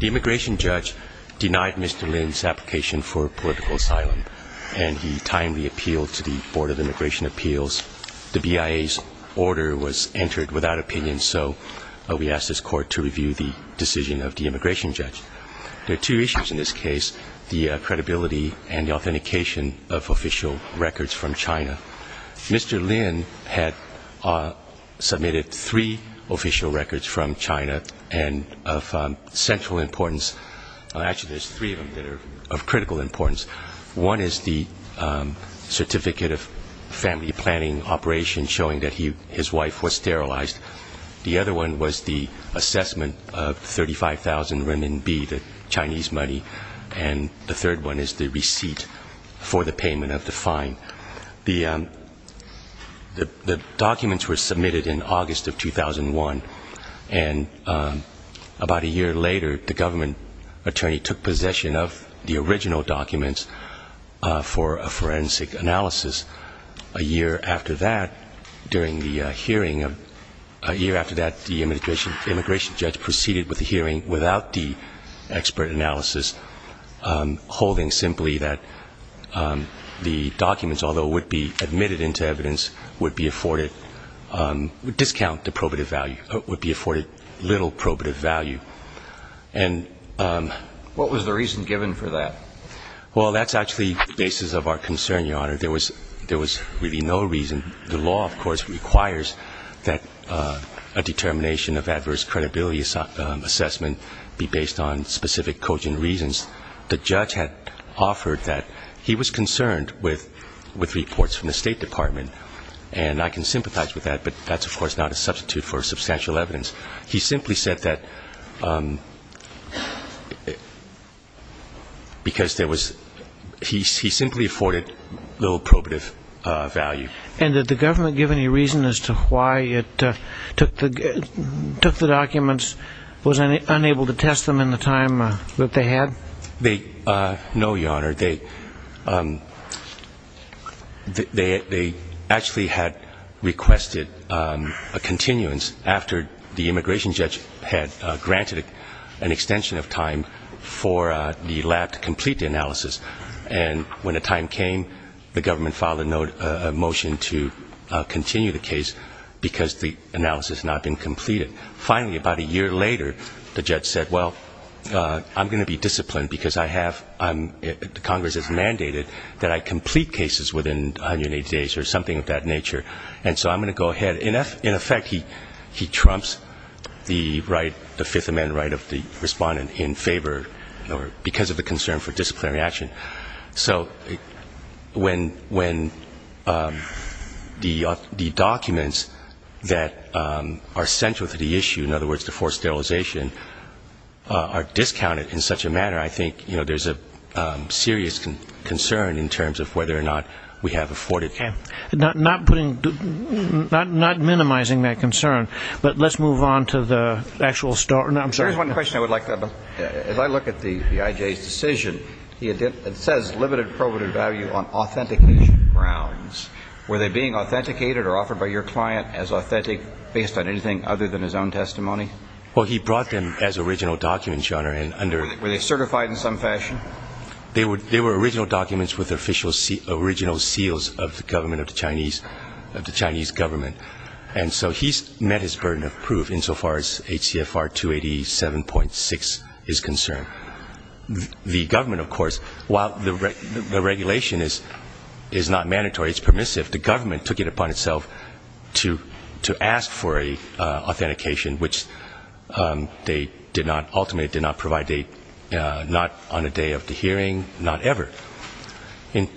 The immigration judge denied Mr. Lin's application for political asylum, and he timely appealed to the Board of Immigration Appeals. The BIA's order was entered without opinion, so we asked this court to review the decision of the immigration judge. There are two issues in this case, the credibility and the authentication of official records from China. Mr. Lin had submitted three official records from China, and of central importance, actually there's three of critical importance. One is the certificate of family planning operation showing that his wife was sterilized. The other one was the assessment of 35,000 renminbi, the Chinese money, and the third one is the receipt for the payment of the fine. The documents were the original documents for a forensic analysis. A year after that, during the hearing, a year after that, the immigration judge proceeded with the hearing without the expert analysis, holding simply that the documents, although would be admitted into evidence, would be afforded, would discount the probative value, would be afforded little probative value. And... What was the reason given for that? Well, that's actually the basis of our concern, Your Honor. There was really no reason. The law, of course, requires that a determination of adverse credibility assessment be based on specific cogent reasons. The judge had offered that he was concerned with reports from the State Department, and I can sympathize with that, but that's, of course, not a substitute for substantial evidence. He simply said that because there was, he simply afforded little probative value. And did the government give any reason as to why it took the documents, was unable to test them in the time that they had? No, Your Honor. They actually had requested a continuance after the immigration judge had granted an extension of time for the lab to complete the analysis. And when the time came, the government filed a motion to continue the case because the analysis had not been completed. Congress has mandated that I complete cases within 180 days or something of that nature. And so I'm going to go ahead. In effect, he trumps the right, the Fifth Amendment right of the respondent in favor because of the concern for disciplinary action. So when the documents that are central to the issue, in other words the forced sterilization, are not being used, I think there's a serious concern in terms of whether or not we have afforded them. Okay. Not putting, not minimizing that concern, but let's move on to the actual story. There's one question I would like to have. As I look at the I.J.'s decision, it says limited probative value on authentication grounds. Were they being authenticated or offered by your client as authentic based on anything other than his own testimony? Well, he brought them as original documents, Your Honor, and under Were they certified in some fashion? They were original documents with the official, original seals of the government, of the Chinese government. And so he's met his burden of proof insofar as HCFR 287.6 is concerned. The government, of course, while the regulation is not mandatory, it's permissive, the government took it upon itself to ask for an authentication, which they did not, ultimately did not provide on a date, not on a day of the hearing, not ever.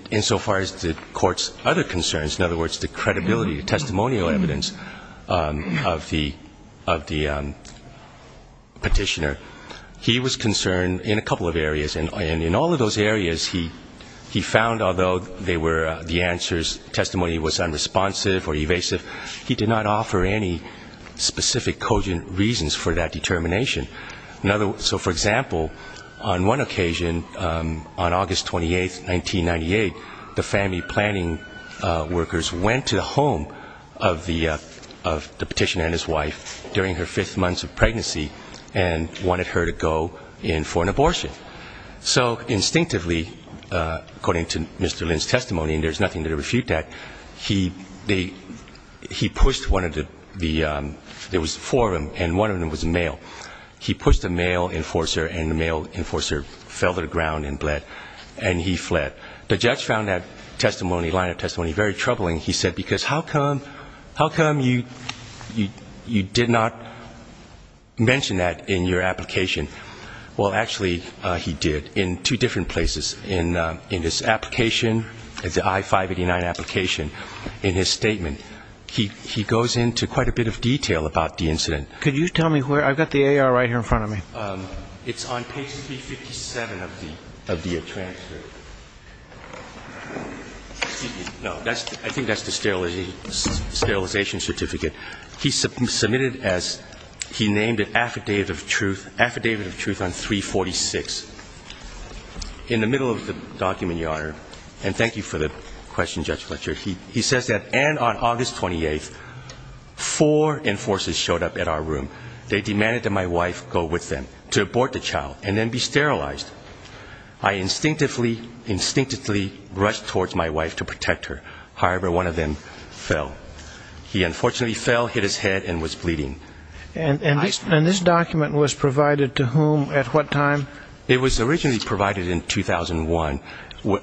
Insofar as the court's other concerns, in other words, the credibility, the testimonial evidence of the, of the petitioner, he was concerned in a couple of areas. And in all of those areas, he, he found although they were the answers, testimony was unresponsive or evasive, he did not offer any specific cogent reasons for that determination. So, for example, on one occasion, on August 28th, 1998, the family planning workers went to the home of the petitioner and his wife during her fifth month of pregnancy and wanted her to go in for an abortion. So instinctively, according to Mr. Lin's testimony, and there's nothing to refute that, he pushed one of the, there was four of them, and one of them was pregnant. He pushed the male enforcer, and the male enforcer fell to the ground and bled, and he fled. The judge found that testimony, line of testimony, very troubling. He said, because how come, how come you, you, you did not mention that in your application? Well, actually, he did, in two different places. In his application, the I-589 application, in his statement, he, he goes into quite a bit of detail about the incident. Could you tell me where, I've got the AR right here in front of me. It's on page 357 of the, of the transfer. No, that's, I think that's the sterilization certificate. He submitted as, he named it Affidavit of Truth, Affidavit of Truth on 346. In the middle of the document, Your Honor, and thank you for the question, Judge Fletcher, he says that, and on August 28th, four enforcers showed up at our room. They demanded that my wife go with them, to abort the child, and then be sterilized. I instinctively, instinctively rushed towards my wife to protect her. However, one of them fell. He unfortunately fell, hit his head, and was bleeding. And this document was provided to whom, at what time? It was originally provided in 2001,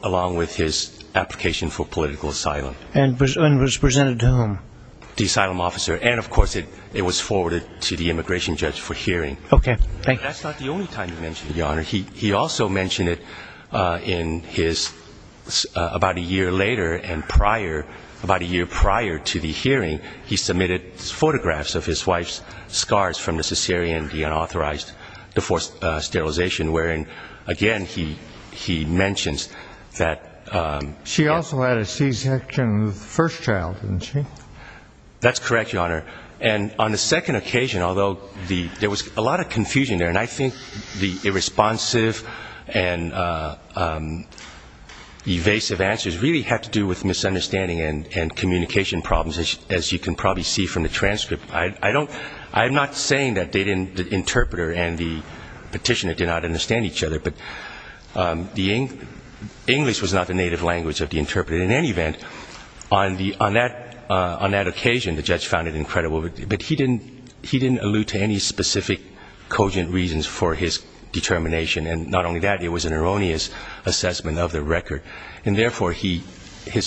along with his application for political asylum. And was presented to whom? The asylum officer, and of course, it was forwarded to the immigration judge for hearing. Okay, thank you. That's not the only time he mentioned it, Your Honor. He also mentioned it in his, about a year later, and prior, about a year prior to the hearing, he submitted photographs of his wife's scars from the cesarean, the unauthorized sterilization, wherein, again, he mentions that. She also had a C-section of the first child, didn't she? That's correct, Your Honor. And on the second occasion, although there was a lot of confusion there, and I think the irresponsive and evasive answers really had to do with misunderstanding and communication problems, as you can probably see from the transcript. I'm not saying that the interpreter and the petitioner did not understand each other, but English was not the native language of the interpreter. In any event, on that occasion, the judge found it incredible. But he didn't allude to any specific cogent reasons for his determination. And not only that, it was an erroneous assessment of the record. And therefore, his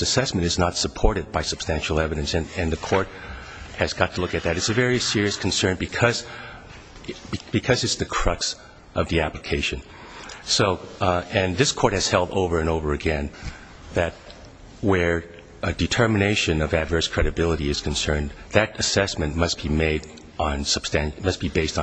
assessment is not supported by substantial evidence, and the court has got to look at that. It's a very serious concern because it's the crux of the application. And this court has held over and over again that where a determination of adverse credibility is concerned, that assessment must be based on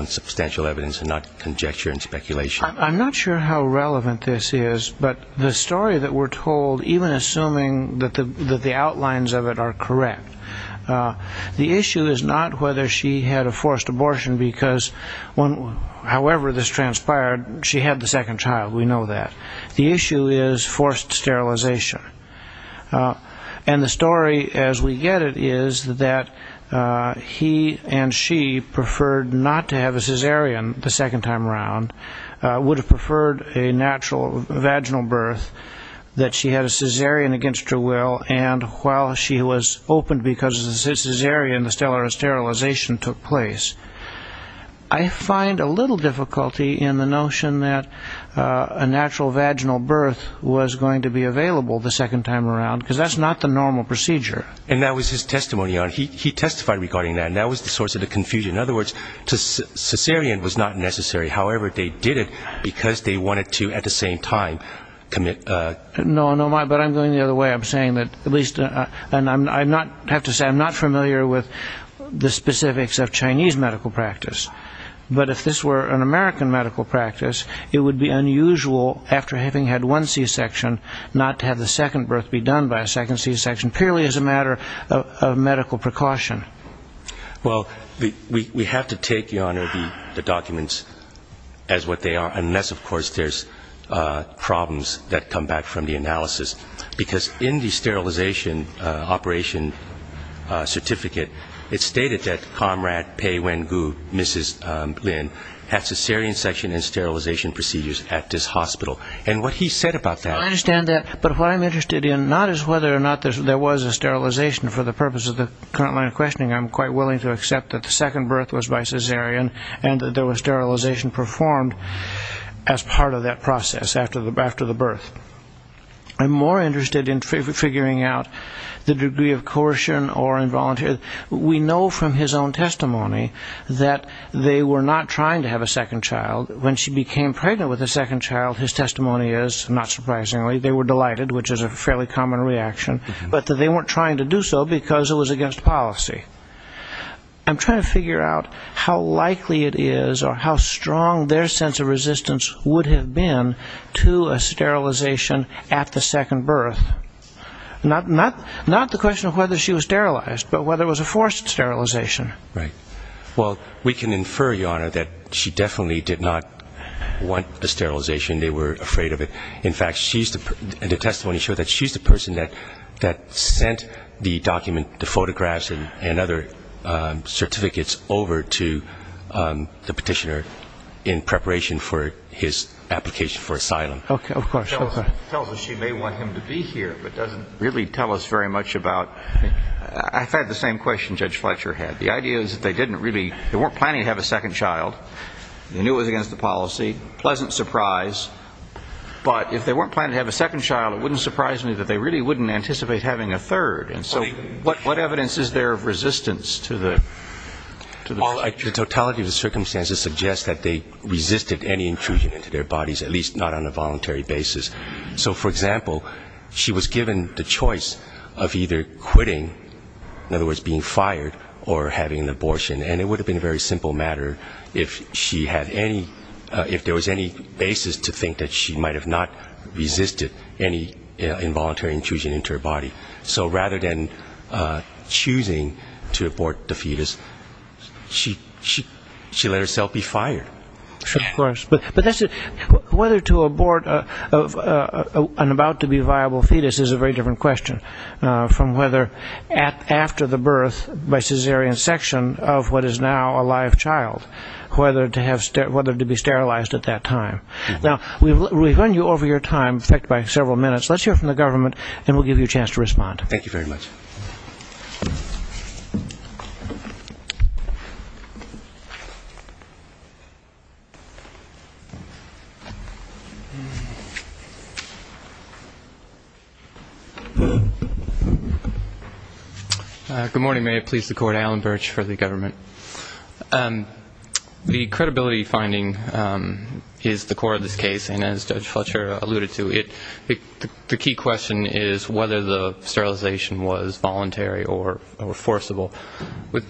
substantial evidence and not conjecture and speculation. I'm not sure how relevant this is, but the story that we're told, even assuming that the outlines of it are correct, the issue is not whether she had a forced abortion because, however this transpired, she had the second child. We know that. The issue is forced sterilization. And the story, as we get it, is that he and she preferred not to have a cesarean the second time around, would have preferred a natural vaginal birth, that she had a cesarean against her will, and while she was open because of the cesarean, the sterilization took place. I find a little difficulty in the notion that a natural vaginal birth was going to be available the second time around, because that's not the normal procedure. And that was his testimony. He testified regarding that, and that was the source of the confusion. In other words, a cesarean was not necessary. However, they did it because they wanted to, at the same time, commit... No, but I'm going the other way. I'm saying that at least, and I have to say I'm not familiar with the specifics of Chinese medical practice, but if this were an American medical practice, it would be unusual, after having had one c-section, not to have the second birth be done by a second c-section, purely as a matter of medical precaution. Well, we have to take, Your Honor, the documents as what they are, unless, of course, there's problems that come back from the analysis. Because in the sterilization operation certificate, it's stated that comrade Peiwen Gu, Mrs. Lin, had c-section and sterilization procedures at this hospital. And what he said about that... I understand that, but what I'm interested in, not as whether or not there was a sterilization, for the purpose of the current line of questioning, I'm quite willing to accept that the second birth was by cesarean, and that there was sterilization performed as part of that process, after the birth. I'm more interested in figuring out the degree of coercion or involuntary... We know from his own testimony that they were not trying to have a second child. When she became pregnant with a second child, his testimony is, not surprisingly, they were delighted, which is a fairly common reaction, but that they weren't trying to do so, because it was against policy. I'm trying to figure out how likely it is, or how strong their sense of resistance would have been, to a sterilization at the second birth. Not the question of whether she was sterilized, but whether it was a forced sterilization. Right. Well, we can infer, Your Honor, that she definitely did not want a sterilization. They were afraid of it. In fact, the testimony showed that she's the person that sent the document, the photographs and other certificates over to the petitioner in preparation for his application for asylum. Tells us she may want him to be here, but doesn't really tell us very much about... I've had the same question Judge Fletcher had. The idea is that they didn't really... They weren't planning to have a second child. They knew it was against the policy. Pleasant surprise. But if they weren't planning to have a second child, it wouldn't surprise me that they really wouldn't anticipate having a third. And so what evidence is there of resistance to the... Well, the totality of the circumstances suggest that they resisted any intrusion into their bodies, at least not on a voluntary basis. So, for example, she was given the choice of either quitting, in other words being fired, or having an abortion. And it would have been a very simple matter if she had any, if there was any basis to think that she might have not resisted any involuntary intrusion into her body. So rather than choosing to abort the fetus, she let herself be fired. Of course. But whether to abort an about-to-be-viable fetus is a very different question from whether after the birth by cesarean section of what is now a live child, whether to be sterilized at that time. Now, we've run you over your time, in fact by several minutes, let's hear from the government and we'll give you a chance to respond. Thank you very much. Good morning, may it please the court, Alan Birch for the government. The credibility finding is the core of this case. And as Judge Fletcher alluded to, the key question is whether the sterilization was voluntary or forcible. Is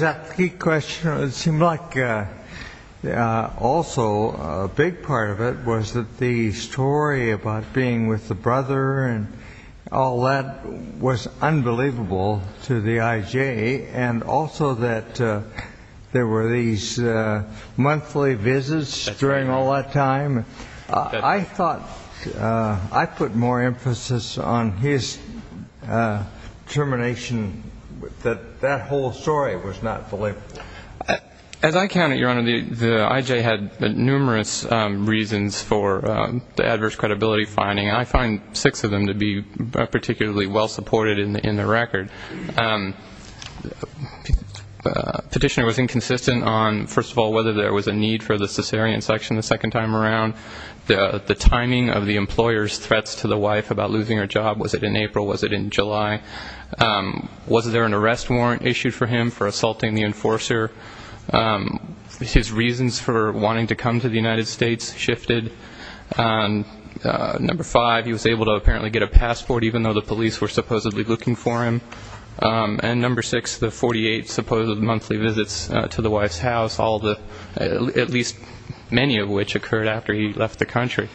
that the key question? It seemed like also a big part of it was that the story about being with the brother and all that was unbelievable to the I.J. and also that there were these monthly visits during all that time. I thought I put more emphasis on his termination, that that whole story was not believable. As I count it, your honor, the I.J. had numerous reasons for the adverse credibility finding. I find six of them to be particularly well supported in the record. Petitioner was inconsistent on, first of all, whether there was a need for the cesarean section the second time around. The timing of the employer's threats to the wife about losing her job, was it in April, was it in July? Was there an arrest warrant issued for him for assaulting the enforcer? His reasons for wanting to come to the United States shifted. Number five, he was able to apparently get a passport, even though the police were supposedly looking for him. And number six, the 48 supposed monthly visits to the wife's house, at least many of which occurred after he left the country.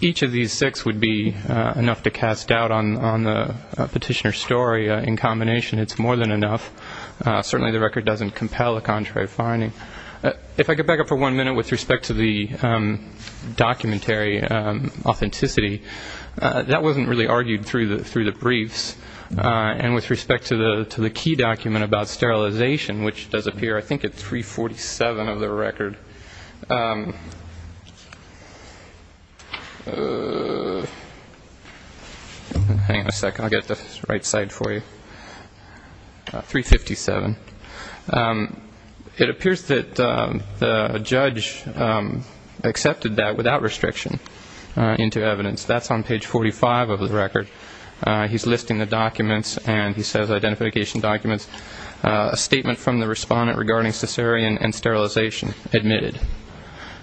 Each of these six would be enough to cast doubt on the petitioner's story. In combination, it's more than enough. Certainly the record doesn't compel a contrary finding. If I could back up for one minute with respect to the documentary authenticity, that wasn't really argued through the briefs. And with respect to the key document about sterilization, which does appear, I think, at 347 of the record. Hang on a second, I'll get the right side for you. 357. It appears that the judge accepted that without restriction into evidence. That's on page 45 of the record. He's listing the documents, and he says identification documents, a statement from the respondent regarding cesarean and sterilization, admitted.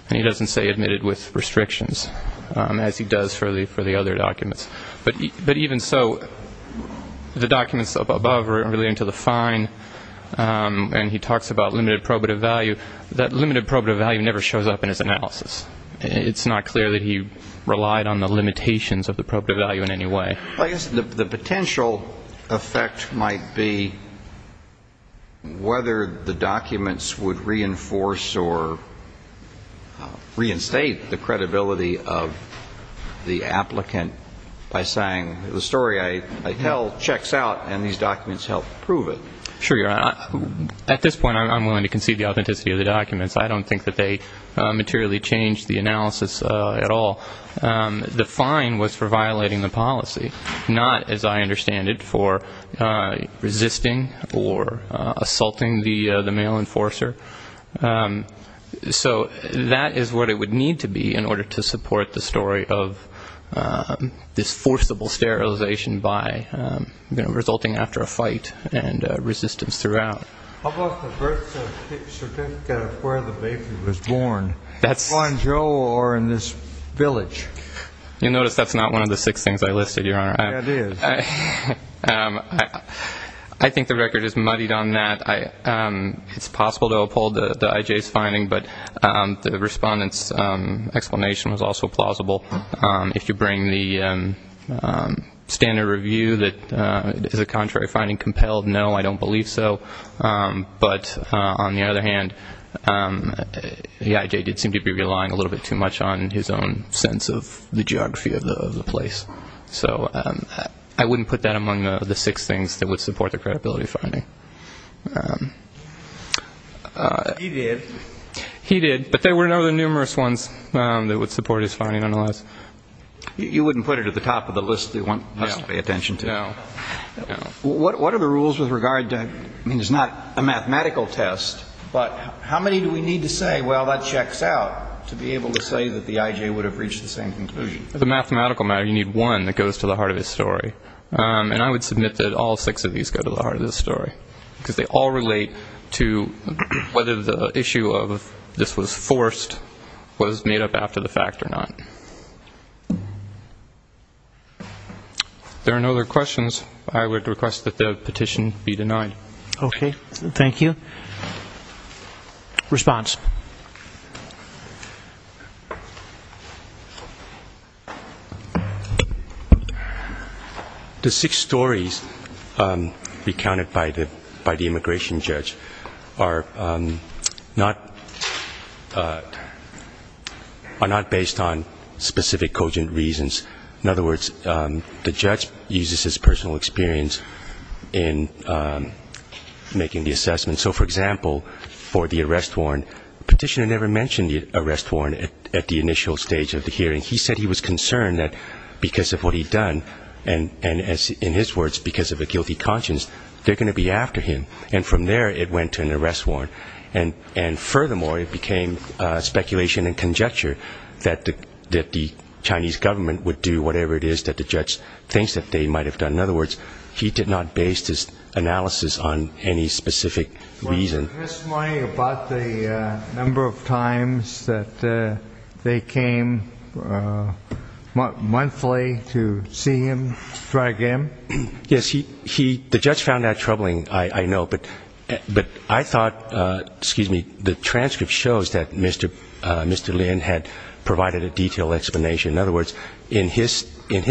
And he doesn't say admitted with restrictions, as he does for the other documents. But even so, the documents above are relating to the fine, and he talks about limited probative value. That limited probative value never shows up in his analysis. It's not clear that he relied on the limitations of the probative value in any way. I guess the potential effect might be whether the documents would reinforce or reinstate the credibility of the applicant by saying the story I tell checks out, and these documents help prove it. Sure. At this point I'm willing to concede the authenticity of the documents. I don't think that they materially change the analysis at all. The fine was for violating the policy, not, as I understand it, for resisting or assaulting the mail enforcer. So that is what it would need to be in order to support the story of this forcible sterilization by resulting after a fight and resistance throughout. How about the birth certificate of where the baby was born? Juan Joe or in this village? You'll notice that's not one of the six things I listed, Your Honor. I think the record is muddied on that. It's possible to uphold the IJ's finding, but the Respondent's explanation was also plausible. If you bring the standard review that is a contrary finding compelled, no, I don't believe so. But on the other hand, the IJ did seem to be relying a little bit too much on his own sense of the geography of the place. So I wouldn't put that among the six things that would support the credibility finding. He did. But there were other numerous ones that would support his finding otherwise. You wouldn't put it at the top of the list that you want us to pay attention to? No. What are the rules with regard to, I mean, it's not a mathematical test, but how many do we need to say, well, that checks out, to be able to say that the IJ would have reached the same conclusion? As a mathematical matter, you need one that goes to the heart of his story. And I would submit that all six of these go to the heart of his story, because they all relate to whether the issue of this was forced was made up after the fact or not. If there are no other questions, I would request that the petition be denied. Okay. Thank you. The six stories recounted by the immigration judge are not based on specific cogent reasons. In other words, the judge uses his personal experience in making his case, making the assessment, so, for example, for the arrest warrant, the petitioner never mentioned the arrest warrant at the initial stage of the hearing. He said he was concerned that because of what he'd done, and in his words, because of a guilty conscience, they're going to be after him, and from there it went to an arrest warrant. And furthermore, it became speculation and conjecture that the Chinese government would do whatever it is that the judge thinks that they might have done. In other words, he did not base this analysis on any specific reason. Was the testimony about the number of times that they came monthly to see him, to try to get him? Yes, the judge found that troubling, I know, but I thought, excuse me, the transcript shows that Mr. Lin had provided a detailed explanation. In other words, in his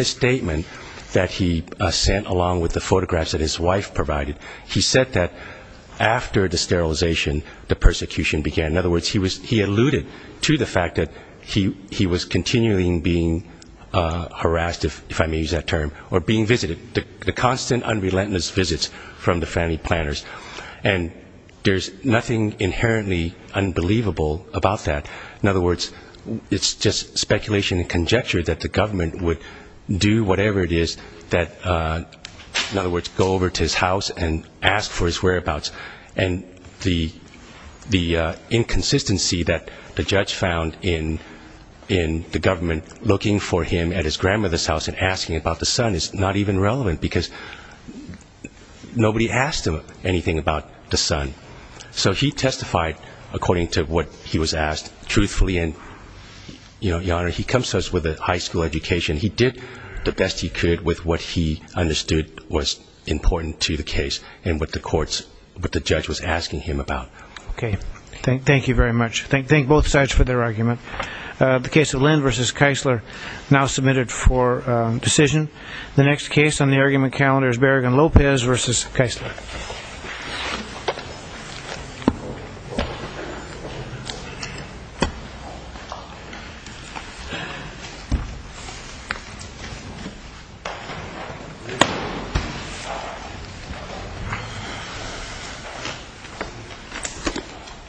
statement that he sent, along with the photographs that his wife provided, he said that after the sterilization, the persecution began. In other words, he alluded to the fact that he was continually being harassed, if I may use that term, or being visited. The constant, unrelentless visits from the family planners. And there's nothing inherently unbelievable about that. In other words, it's just speculation and conjecture that the government would do whatever it is that, in other words, go over to his house and ask for his whereabouts. And the inconsistency that the judge found in the government looking for him at his grandmother's house and asking about the son is not even relevant, because nobody asked him anything about the son. So he testified according to what he was asked, truthfully. And, Your Honor, he comes to us with a high school education. He did the best he could with what he understood was important to the case and what the courts, what the judge was asking him about. Okay. Thank you very much. Thank both sides for their argument. The case of Lind v. Keisler now submitted for decision. The next case on the argument calendar is Berrigan Lopez v. Keisler.